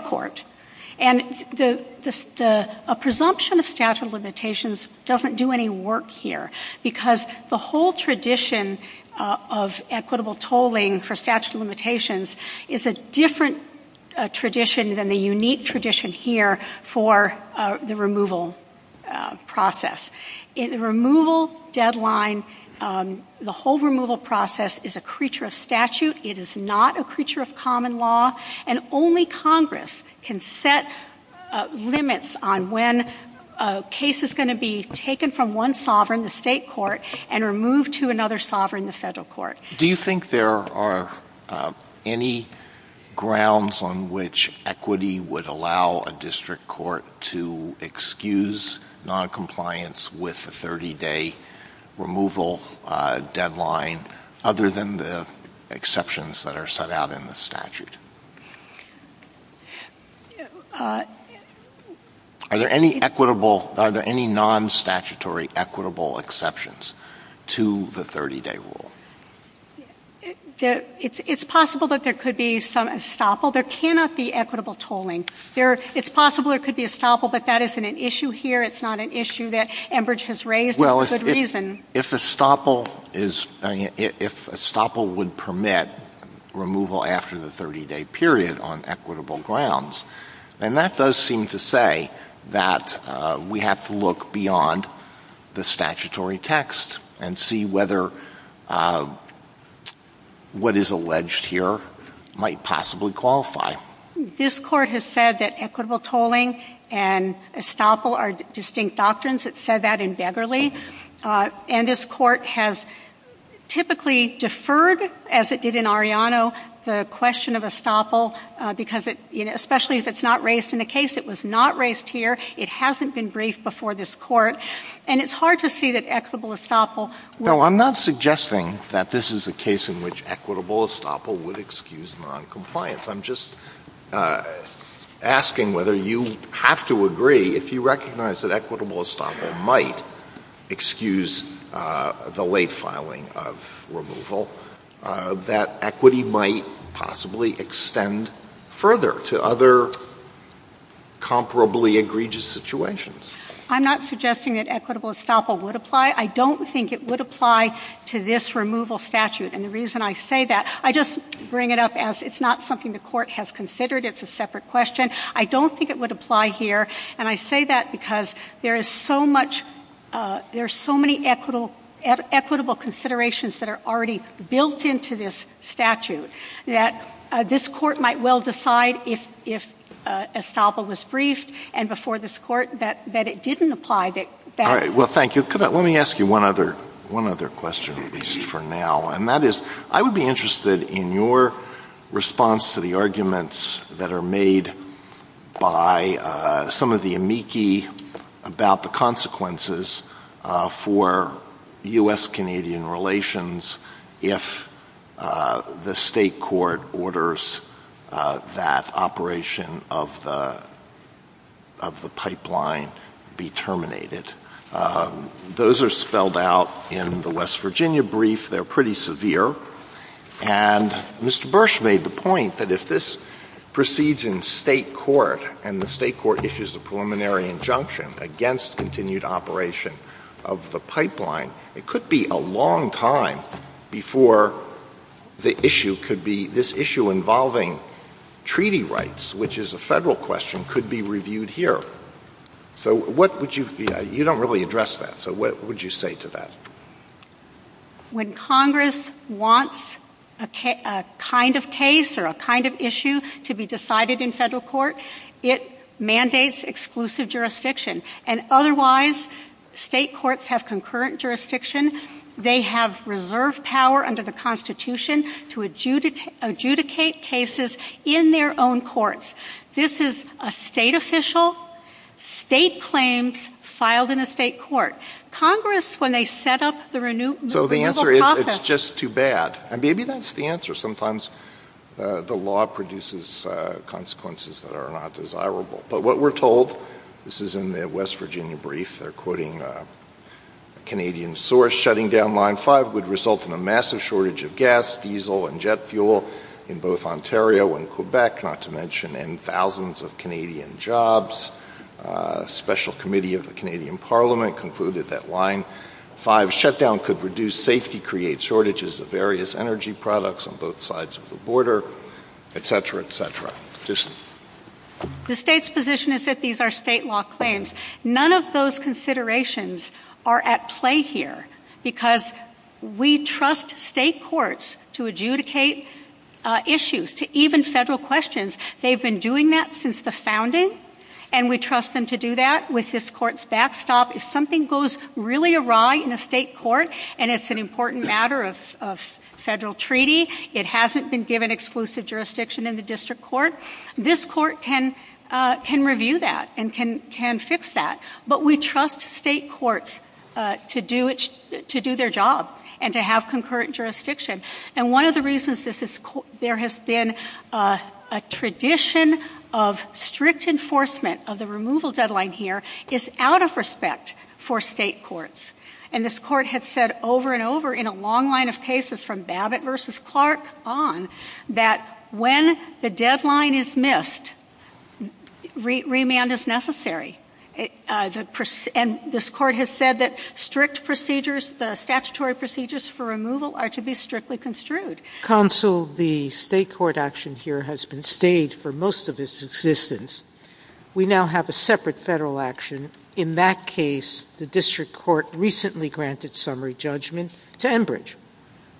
court. And a presumption of statute of limitations doesn't do any work here because the whole tradition of equitable tolling for statute of limitations is a different tradition than the unique tradition here for the removal process. In the removal deadline, the whole removal process is a creature of statute. It is not a creature of common law. And only Congress can set limits on when a case is going to be taken from one sovereign, the State court, and removed to another sovereign, the Federal court. Do you think there are any grounds on which equity would allow a district court to excuse noncompliance with a 30-day removal deadline, other than the exceptions that are set out in the statute? Are there any equitable — are there any nonstatutory equitable exceptions to the 30-day rule? It's possible that there could be some estoppel. There cannot be equitable tolling. There — it's possible there could be estoppel, but that isn't an issue here. It's not an issue that Ambridge has raised for good reason. If estoppel is — if estoppel would permit removal after the 30-day period on equitable grounds, then that does seem to say that we have to look beyond the statutory text and see whether what is alleged here might possibly qualify. This Court has said that equitable tolling and estoppel are distinct doctrines. It said that in Begley. And this Court has typically deferred, as it did in Arellano, the question of estoppel because it — especially if it's not raised in a case that was not raised here. It hasn't been briefed before this Court. And it's hard to see that equitable estoppel would— No, I'm not suggesting that this is a case in which equitable estoppel would excuse noncompliance. I'm just asking whether you have to agree, if you recognize that equitable estoppel might excuse the late filing of removal, that equity might possibly extend further to other comparably egregious situations. I'm not suggesting that equitable estoppel would apply. I don't think it would apply to this removal statute. And the reason I say that, I just bring it up as it's not something the Court has considered. It's a separate question. I don't think it would apply here. And I say that because there is so much — there are so many equitable considerations that are already built into this statute that this Court might well decide, if estoppel was briefed and before this Court, that it didn't apply. All right. Well, thank you. Let me ask you one other question, at least for now. And that is, I would be interested in your response to the arguments that are made by some of the amici about the consequences for U.S.-Canadian relations if the State Court orders that operation of the pipeline be terminated. Those are spelled out in the West Virginia brief. They're pretty severe. And Mr. Bursch made the point that if this proceeds in State court and the State court issues a preliminary injunction against continued operation of the pipeline, it could be a long time before the issue could be — this issue involving treaty rights, which is a Federal question, could be reviewed here. So what would you — you don't really address that. So what would you say to that? When Congress wants a kind of case or a kind of issue to be decided in Federal court, it mandates exclusive jurisdiction. And otherwise, State courts have concurrent jurisdiction. They have reserve power under the Constitution to adjudicate cases in their own courts. This is a State official, State claims filed in a State court. Congress, when they set up the renewal process — So the answer is it's just too bad. And maybe that's the answer. Sometimes the law produces consequences that are not desirable. But what we're told — this is in the West Virginia brief. They're quoting a Canadian source. Shutting down Line 5 would result in a massive shortage of gas, diesel, and jet fuel in both Ontario and Quebec, not to mention in thousands of Canadian jobs. Special Committee of the Canadian Parliament concluded that Line 5 shutdown could reduce safety, create shortages of various energy products on both sides of the border, et cetera, et cetera. The State's position is that these are State law claims. None of those considerations are at play here because we trust State courts to adjudicate issues, to even Federal questions. They've been doing that since the founding. And we trust them to do that with this Court's backstop. If something goes really awry in a State court and it's an important matter of Federal treaty, it hasn't been given exclusive jurisdiction in the District Court, this Court can review that and can fix that. But we trust State courts to do their job and to have concurrent jurisdiction. And one of the reasons there has been a tradition of strict enforcement of the removal deadline here is out of respect for State courts. And this Court has said over and over in a long line of cases from Babbitt v. Clark on that when the deadline is missed, remand is necessary. And this Court has said that strict procedures, the statutory procedures for removal, are to be strictly construed. Counsel, the State court action here has been stayed for most of its existence. We now have a separate Federal action. In that case, the District Court recently granted summary judgment to Enbridge,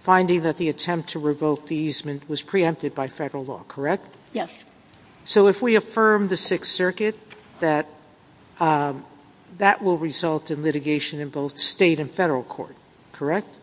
finding that the attempt to revoke the easement was preempted by Federal law, correct? Yes. So if we affirm the Sixth Circuit, that that will result in litigation in both State and Federal court, correct?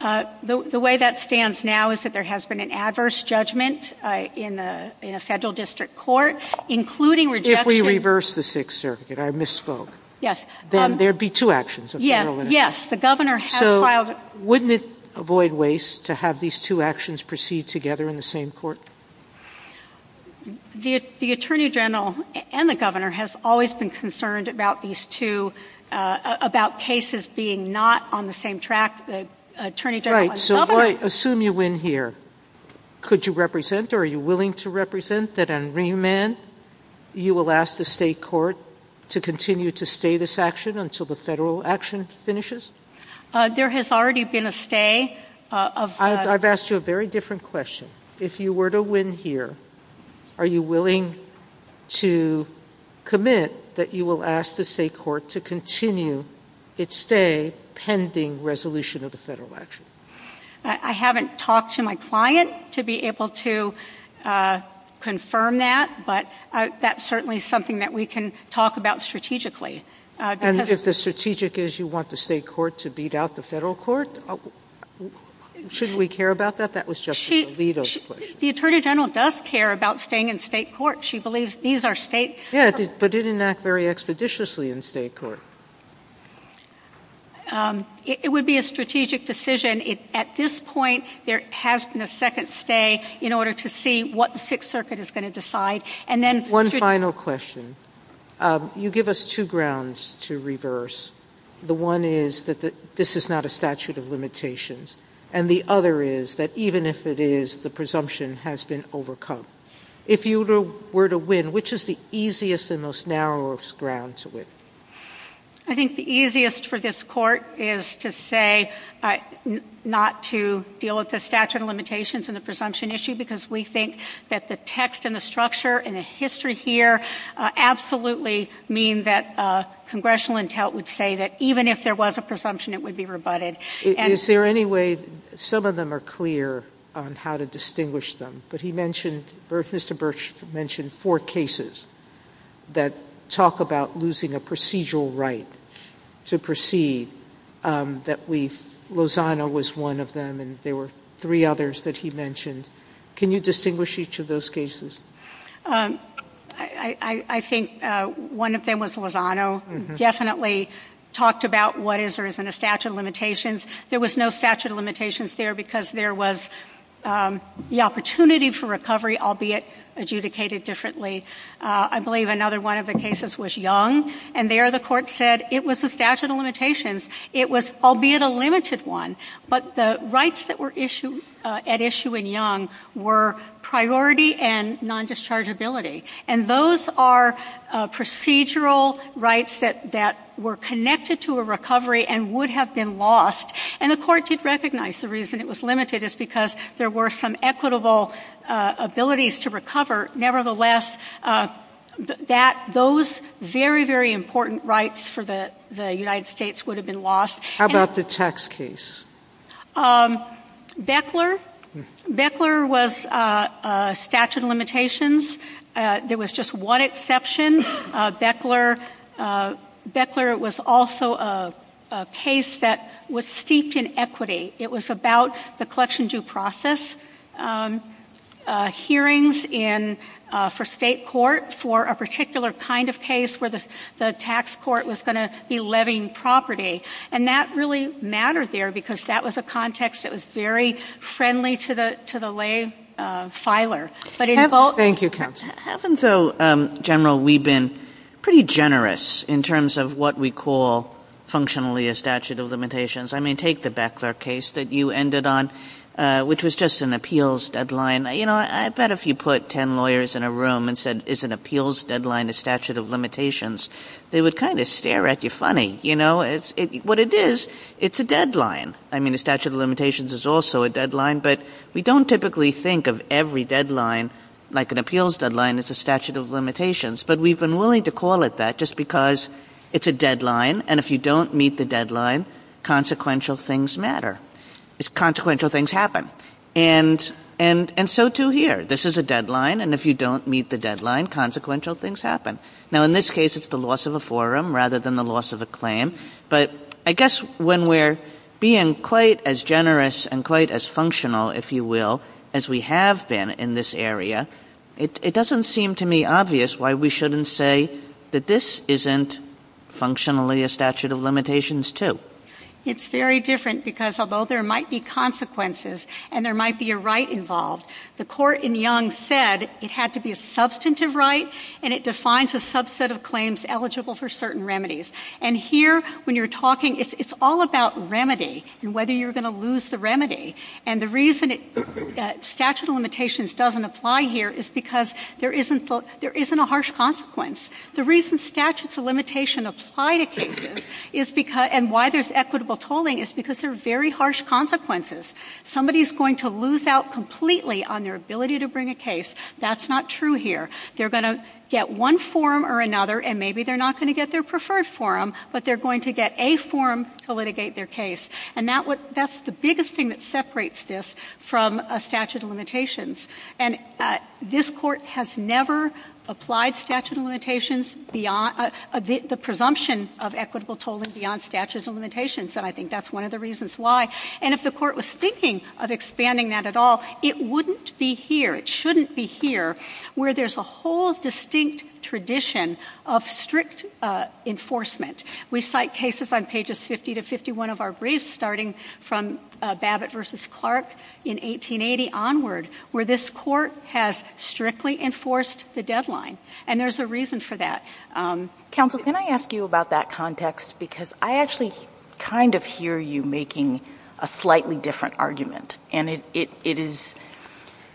The way that stands now is that there has been an adverse judgment in a Federal District court, including rejection. If we reverse the Sixth Circuit, I misspoke. Yes. Then there would be two actions. Yes. The Governor has filed. So wouldn't it avoid waste to have these two actions proceed together in the same court? The Attorney General and the Governor has always been concerned about these two, about cases being not on the same track. The Attorney General and the Governor. Right. So assume you win here. Could you represent or are you willing to represent that on remand, you will ask the State court to continue to stay this action until the Federal action finishes? There has already been a stay. I've asked you a very different question. If you were to win here, are you willing to commit that you will ask the State court to continue its stay pending resolution of the Federal action? I haven't talked to my client to be able to confirm that, but that's certainly something that we can talk about strategically. And if the strategic is you want the State court to beat out the Federal court, shouldn't we care about that? That was Justice Alito's question. The Attorney General does care about staying in State court. She believes these are State. Yes, but it didn't act very expeditiously in State court. It would be a strategic decision. At this point, there has been a second stay in order to see what the Sixth Circuit is going to decide. One final question. You give us two grounds to reverse. The one is that this is not a statute of limitations. And the other is that even if it is, the presumption has been overcome. If you were to win, which is the easiest and most narrowest ground to win? I think the easiest for this court is to say not to deal with the statute of limitations and the presumption issue because we think that the text and the structure and the history here absolutely mean that congressional intel would say that even if there was a presumption, it would be rebutted. Is there any way, some of them are clear on how to distinguish them, but he mentioned, Mr. Birch mentioned four cases that talk about losing a procedural right to proceed. Lozano was one of them, and there were three others that he mentioned. Can you distinguish each of those cases? I think one of them was Lozano. Definitely talked about what is or isn't a statute of limitations. There was no statute of limitations there because there was the opportunity for recovery, albeit adjudicated differently. I believe another one of the cases was Young, and there the court said it was a statute of limitations. It was albeit a limited one, but the rights that were at issue in Young were priority and non-dischargeability, and those are procedural rights that were connected to a recovery and would have been lost, and the court did recognize the reason it was limited is because there were some equitable abilities to recover. Nevertheless, those very, very important rights for the United States would have been lost. How about the tax case? Beckler. Beckler was a statute of limitations. There was just one exception. Beckler was also a case that was steeped in equity. It was about the collection due process hearings for state court for a particular kind of case where the tax court was going to be levying property, and that really mattered there because that was a context that was very friendly to the lay filer. Thank you, Counsel. Haven't, though, General, we been pretty generous in terms of what we call functionally a statute of limitations? I mean, take the Beckler case that you ended on, which was just an appeals deadline. You know, I bet if you put ten lawyers in a room and said it's an appeals deadline, a statute of limitations, they would kind of stare at you funny. You know, what it is, it's a deadline. I mean, a statute of limitations is also a deadline, but we don't typically think of every deadline like an appeals deadline is a statute of limitations, but we've been willing to call it that just because it's a deadline, and if you don't meet the deadline, consequential things matter. Consequential things happen. And so, too, here. This is a deadline, and if you don't meet the deadline, consequential things happen. Now, in this case, it's the loss of a forum rather than the loss of a claim, but I guess when we're being quite as generous and quite as functional, if you will, as we have been in this area, it doesn't seem to me obvious why we shouldn't say that this isn't functionally a statute of limitations, too. It's very different because although there might be consequences and there might be a right involved, the court in Young said it had to be a substantive right, and it defines a subset of claims eligible for certain remedies. And here, when you're talking, it's all about remedy and whether you're going to lose the remedy. And the reason statute of limitations doesn't apply here is because there isn't a harsh consequence. The reason statutes of limitation apply to cases and why there's equitable tolling is because there are very harsh consequences. Somebody is going to lose out completely on their ability to bring a case. That's not true here. They're going to get one forum or another, and maybe they're not going to get their preferred forum, but they're going to get a forum to litigate their case. And that's the biggest thing that separates this from a statute of limitations. And this Court has never applied statute of limitations beyond the presumption of equitable tolling beyond statute of limitations, and I think that's one of the reasons why. And if the Court was thinking of expanding that at all, it wouldn't be here. It shouldn't be here, where there's a whole distinct tradition of strict enforcement. We cite cases on pages 50 to 51 of our briefs, starting from Babbitt v. Clark in 1880 onward, where this Court has strictly enforced the deadline, and there's a reason for that. Counsel, can I ask you about that context? Because I actually kind of hear you making a slightly different argument. And it is,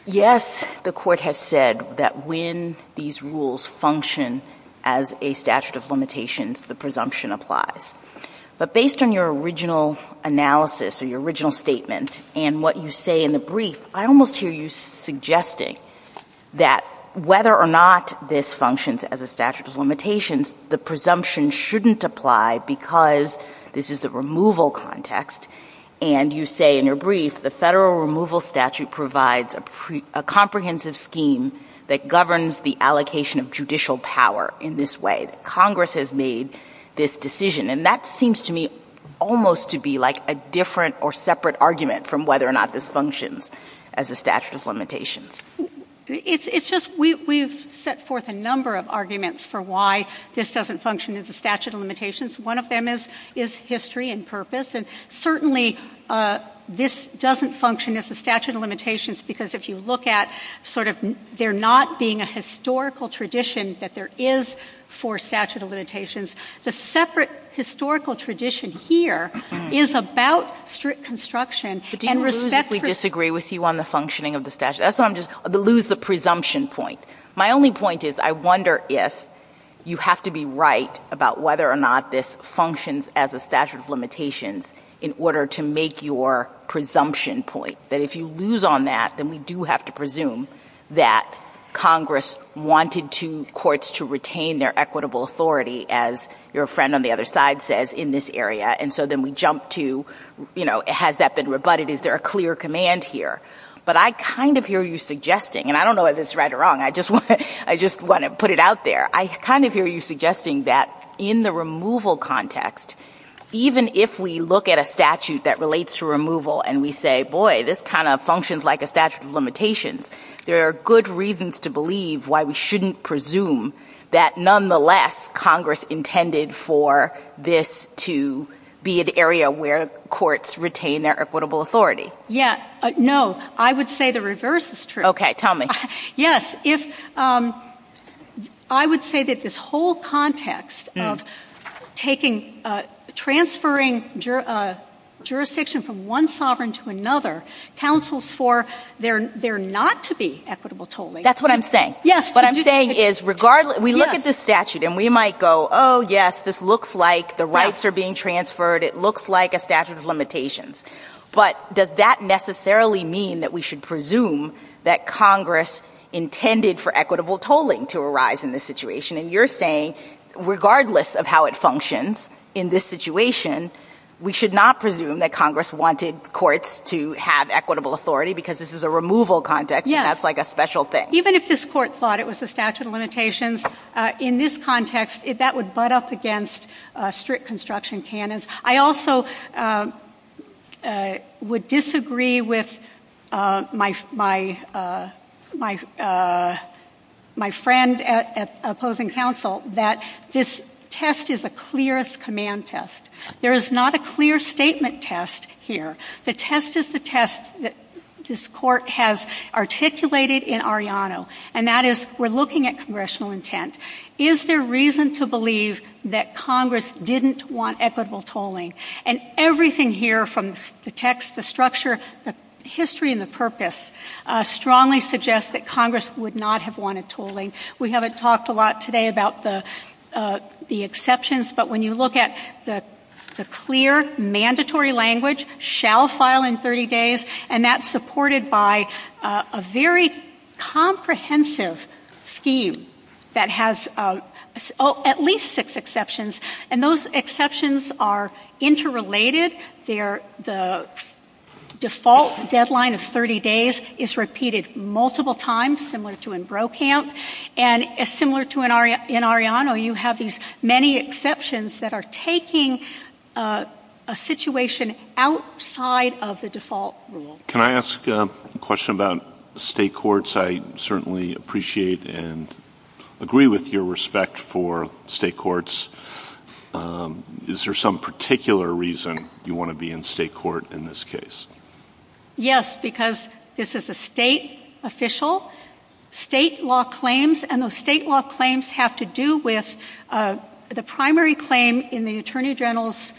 yes, the Court has said that when these rules function as a statute of limitations, the presumption applies. But based on your original analysis or your original statement and what you say in the brief, I almost hear you suggesting that whether or not this functions as a statute of limitations, the presumption shouldn't apply because this is the removal context. And you say in your brief, the Federal removal statute provides a comprehensive scheme that governs the allocation of judicial power in this way, that Congress has made this decision. And that seems to me almost to be like a different or separate argument from whether or not this functions. as a statute of limitations. It's just, we've set forth a number of arguments for why this doesn't function as a statute of limitations. One of them is history and purpose. And certainly, this doesn't function as a statute of limitations because if you look at sort of there not being a historical tradition that there is for statute of limitations, the separate historical tradition here is about strict construction and respect for I don't disagree with you on the functioning of the statute. That's why I'm just, I lose the presumption point. My only point is, I wonder if you have to be right about whether or not this functions as a statute of limitations in order to make your presumption point. That if you lose on that, then we do have to presume that Congress wanted courts to retain their equitable authority, as your friend on the other side says, in this area. And so then we jump to, you know, has that been rebutted? Is there a clear command here? But I kind of hear you suggesting, and I don't know if it's right or wrong. I just want to put it out there. I kind of hear you suggesting that in the removal context, even if we look at a statute that relates to removal and we say, boy, this kind of functions like a statute of limitations, there are good reasons to believe why we shouldn't presume that, nonetheless, Congress intended for this to be an area where courts retain their equitable authority. Yeah. No. I would say the reverse is true. Okay. Tell me. Yes. If, I would say that this whole context of taking, transferring jurisdiction from one sovereign to another counsels for there not to be equitable tolling. That's what I'm saying. Yes. What I'm saying is regardless we look at this statute and we might go, oh, yes, this looks like the rights are being transferred. It looks like a statute of limitations. But does that necessarily mean that we should presume that Congress intended for equitable tolling to arise in this situation? And you're saying regardless of how it functions in this situation, we should not presume that Congress wanted courts to have equitable authority because this is a removal context. Yes. And that's like a special thing. Even if this court thought it was a statute of limitations, in this context, that would butt up against strict construction canons. I also would disagree with my friend at opposing counsel that this test is a clearest command test. There is not a clear statement test here. The test is the test that this court has articulated in Arellano. And that is we're looking at congressional intent. Is there reason to believe that Congress didn't want equitable tolling? And everything here from the text, the structure, the history, and the purpose strongly suggests that Congress would not have wanted tolling. We haven't talked a lot today about the exceptions. But when you look at the clear mandatory language, shall file in 30 days, and that's supported by a very comprehensive scheme that has at least six exceptions. And those exceptions are interrelated. The default deadline of 30 days is repeated multiple times, similar to in Brokamp. And similar to in Arellano, you have these many exceptions that are taking a situation outside of the default rule. Can I ask a question about state courts? I certainly appreciate and agree with your respect for state courts. Is there some particular reason you want to be in state court in this case? Yes, because this is a state official, state law claims, and those state law claims have to do with the primary claim in the Attorney General's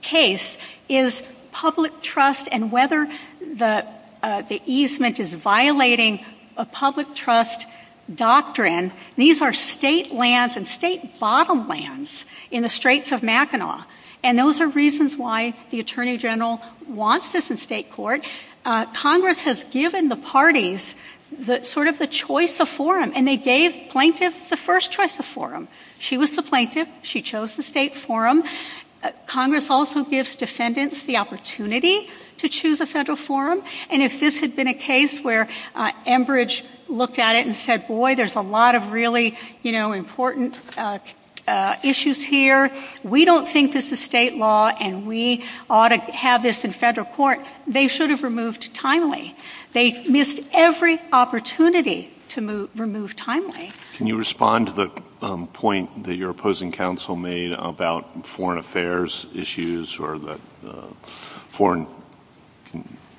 case is public trust and whether the easement is violating a public trust doctrine. These are state lands and state bottom lands in the Straits of Mackinac. And those are reasons why the Attorney General wants us in state court. Congress has given the parties sort of the choice of forum, and they gave plaintiff the first choice of forum. She was the plaintiff. She chose the state forum. Congress also gives defendants the opportunity to choose a federal forum. And if this had been a case where Enbridge looked at it and said, boy, there's a lot of really important issues here, we don't think this is state law, and we ought to have this in federal court, they should have removed timely. They missed every opportunity to remove timely. Can you respond to the point that your opposing counsel made about foreign affairs issues or the foreign?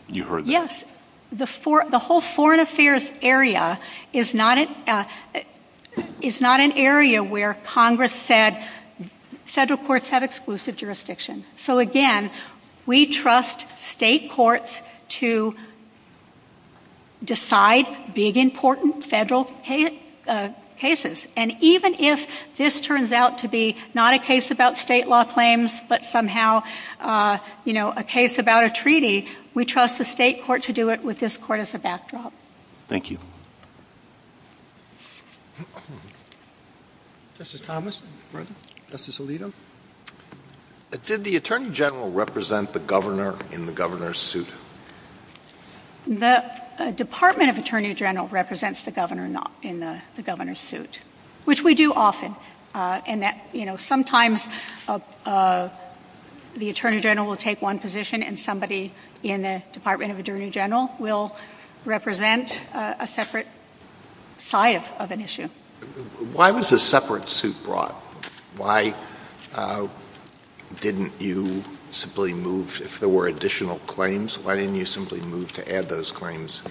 You heard that. The whole foreign affairs area is not an area where Congress said federal courts have exclusive jurisdiction. So, again, we trust state courts to decide big, important federal cases. And even if this turns out to be not a case about state law claims but somehow a case about a treaty, we trust the state court to do it with this court as a backdrop. Thank you. Justice Thomas? Justice Alito? Did the Attorney General represent the Governor in the Governor's suit? The Department of Attorney General represents the Governor in the Governor's suit, which we do often. And that, you know, sometimes the Attorney General will take one position and somebody in the Department of Attorney General will represent a separate side of an issue. Why was a separate suit brought? Why didn't you simply move, if there were additional claims, why didn't you simply move to add those claims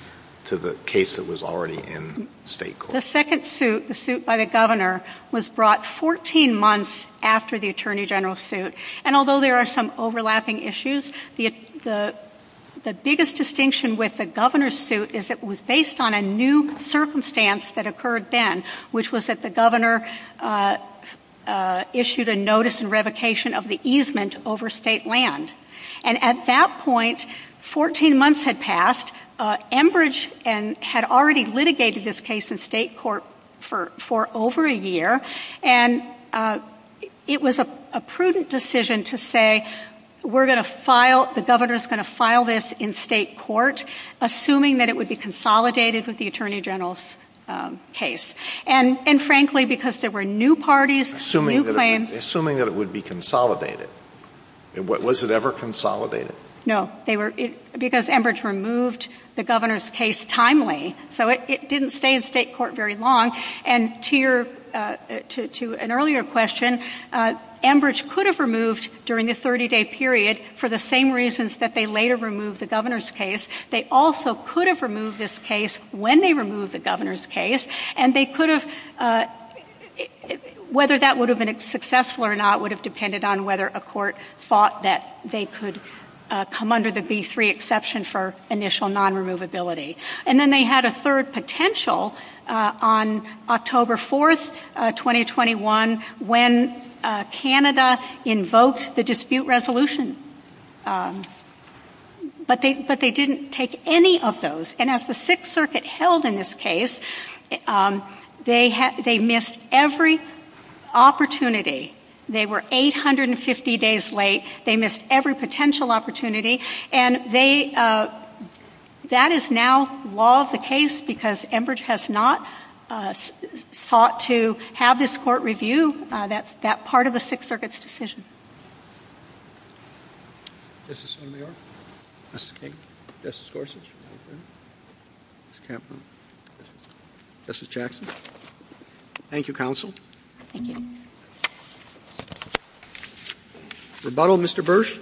to the case that was already in state court? The second suit, the suit by the Governor, was brought 14 months after the Attorney General's suit. And although there are some overlapping issues, the biggest distinction with the Governor's suit is that it was based on a new circumstance that occurred then, which was that the Governor issued a notice and revocation of the easement over state land. And at that point, 14 months had passed. Enbridge had already litigated this case in state court for over a year. And it was a prudent decision to say, we're going to file, the Governor's going to file this in state court, assuming that it would be consolidated with the Attorney General's case. And frankly, because there were new parties, new claims. Assuming that it would be consolidated. Was it ever consolidated? No. Because Enbridge removed the Governor's case timely. So it didn't stay in state court very long. And to an earlier question, Enbridge could have removed during the 30-day period, for the same reasons that they later removed the Governor's case. They also could have removed this case when they removed the Governor's case. And they could have, whether that would have been successful or not, would have depended on whether a court thought that they could come under the B-3 exception for initial non-removability. And then they had a third potential on October 4, 2021, when Canada invoked the dispute resolution. But they didn't take any of those. And as the Sixth Circuit held in this case, they missed every opportunity. They were 850 days late. They missed every potential opportunity. And that is now law of the case because Enbridge has not sought to have this court review. That's part of the Sixth Circuit's decision. Justice Sotomayor? Justice King? Justice Gorsuch? Justice Kavanaugh? Justice Jackson? Thank you, Counsel. Thank you. Rebuttal, Mr. Bursch?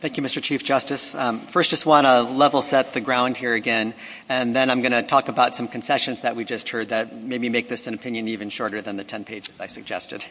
Thank you, Mr. Chief Justice. First, I just want to level set the ground here again. And then I'm going to talk about some concessions that we just heard that maybe make this an opinion even shorter than the 10 pages I suggested.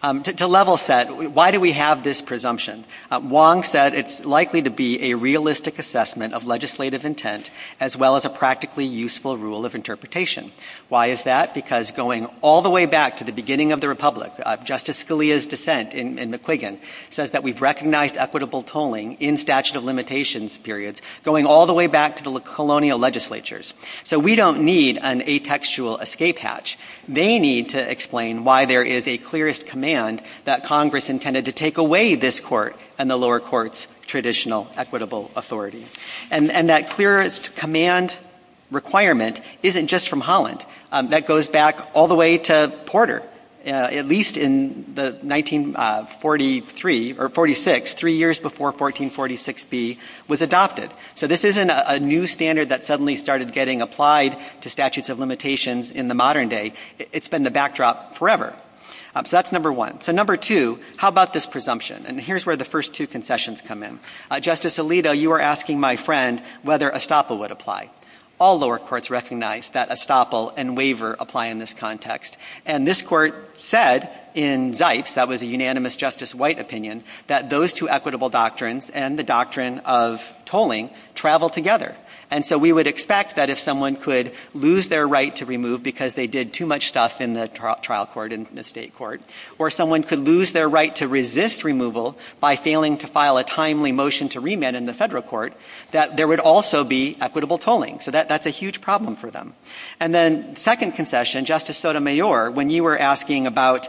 To level set, why do we have this presumption? Wong said it's likely to be a realistic assessment of legislative intent, as well as a practically useful rule of interpretation. Why is that? Because going all the way back to the beginning of the republic, Justice Scalia's dissent in McQuiggan says that we've recognized equitable tolling in statute of limitations periods, going all the way back to the colonial legislatures. So we don't need an atextual escape hatch. They need to explain why there is a clearest command that Congress intended to take away this court and the lower court's traditional equitable authority. And that clearest command requirement isn't just from Holland. That goes back all the way to Porter, at least in the 1943 or 46, three years before 1446B was adopted. So this isn't a new standard that suddenly started getting applied to statutes of limitations in the modern day. It's been the backdrop forever. So that's number one. So number two, how about this presumption? And here's where the first two concessions come in. Justice Alito, you are asking my friend whether estoppel would apply. All lower courts recognize that estoppel and waiver apply in this context. And this court said in Zipes, that was a unanimous Justice White opinion, that those two equitable doctrines and the doctrine of tolling travel together. And so we would expect that if someone could lose their right to remove because they did too much stuff in the trial court, in the state court, or someone could lose their right to resist removal by failing to file a timely motion to remit in the federal court, that there would also be equitable tolling. So that's a huge problem for them. And then second concession, Justice Sotomayor, when you were asking about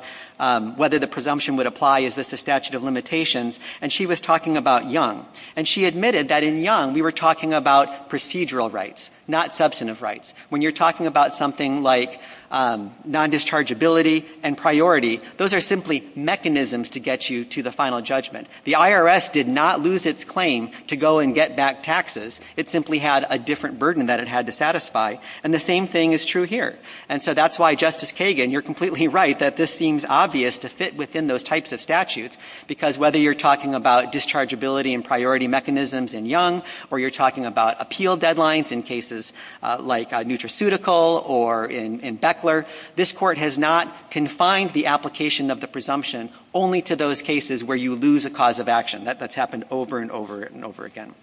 whether the presumption would apply, is this a statute of limitations, and she was talking about Young. And she admitted that in Young, we were talking about procedural rights, not substantive rights. When you're talking about something like non-dischargeability and priority, those are simply mechanisms to get you to the final judgment. The IRS did not lose its claim to go and get back taxes. It simply had a different burden that it had to satisfy. And the same thing is true here. And so that's why, Justice Kagan, you're completely right that this seems obvious to fit within those types of statutes, because whether you're talking about dischargeability and priority mechanisms in Young, or you're talking about appeal deadlines in cases like Nutraceutical or in Beckler, this Court has not confined the application of the presumption only to those cases where you lose a cause of action. That's happened over and over and over again.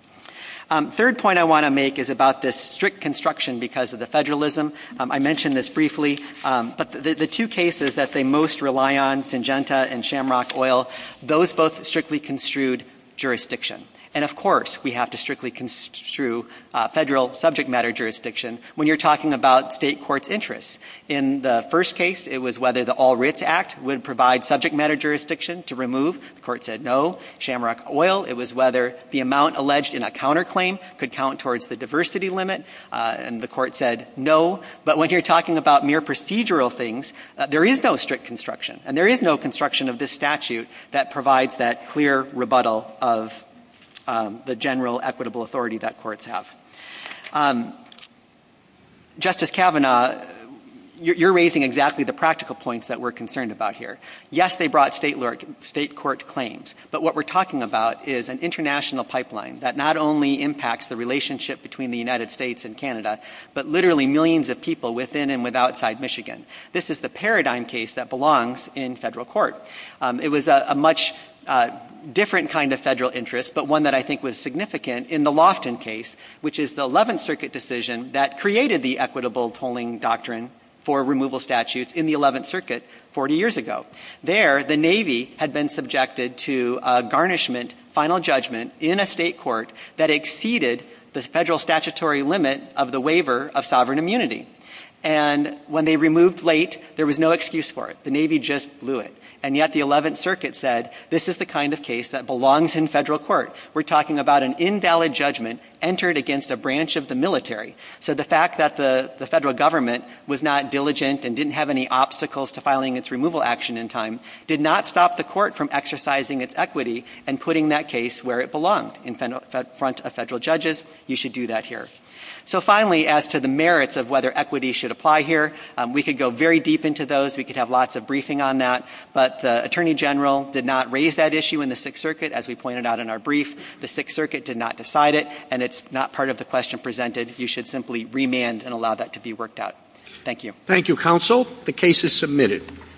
The third point I want to make is about this strict construction because of the federalism. I mentioned this briefly, but the two cases that they most rely on, Syngenta and Shamrock Oil, those both strictly construed jurisdiction. And, of course, we have to strictly construe federal subject matter jurisdiction when you're talking about State courts' interests. In the first case, it was whether the All Writs Act would provide subject matter jurisdiction to remove. The Court said no. Shamrock Oil, it was whether the amount alleged in a counterclaim could count towards the diversity limit. And the Court said no. But when you're talking about mere procedural things, there is no strict construction. And there is no construction of this statute that provides that clear rebuttal of the general equitable authority that courts have. Justice Kavanaugh, you're raising exactly the practical points that we're concerned about here. Yes, they brought State court claims. But what we're talking about is an international pipeline that not only impacts the relationship between the United States and Canada, but literally millions of people within and with outside Michigan. This is the paradigm case that belongs in federal court. It was a much different kind of federal interest, but one that I think was significant in the Lofton case, which is the Eleventh Circuit decision that created the equitable tolling doctrine for removal statutes in the Eleventh Circuit 40 years ago. There, the Navy had been subjected to a garnishment final judgment in a State court that exceeded the federal statutory limit of the waiver of sovereign immunity. And when they removed late, there was no excuse for it. The Navy just blew it. And yet the Eleventh Circuit said this is the kind of case that belongs in federal court. We're talking about an invalid judgment entered against a branch of the military. So the fact that the federal government was not diligent and didn't have any obstacles to filing its removal action in time did not stop the court from exercising its equity and putting that case where it belonged, in front of federal judges. You should do that here. So finally, as to the merits of whether equity should apply here, we could go very deep into those. We could have lots of briefing on that. But the Attorney General did not raise that issue in the Sixth Circuit, as we pointed out in our brief. The Sixth Circuit did not decide it. And it's not part of the question presented. You should simply remand and allow that to be worked out. Thank you. Thank you, Counsel. The case is submitted.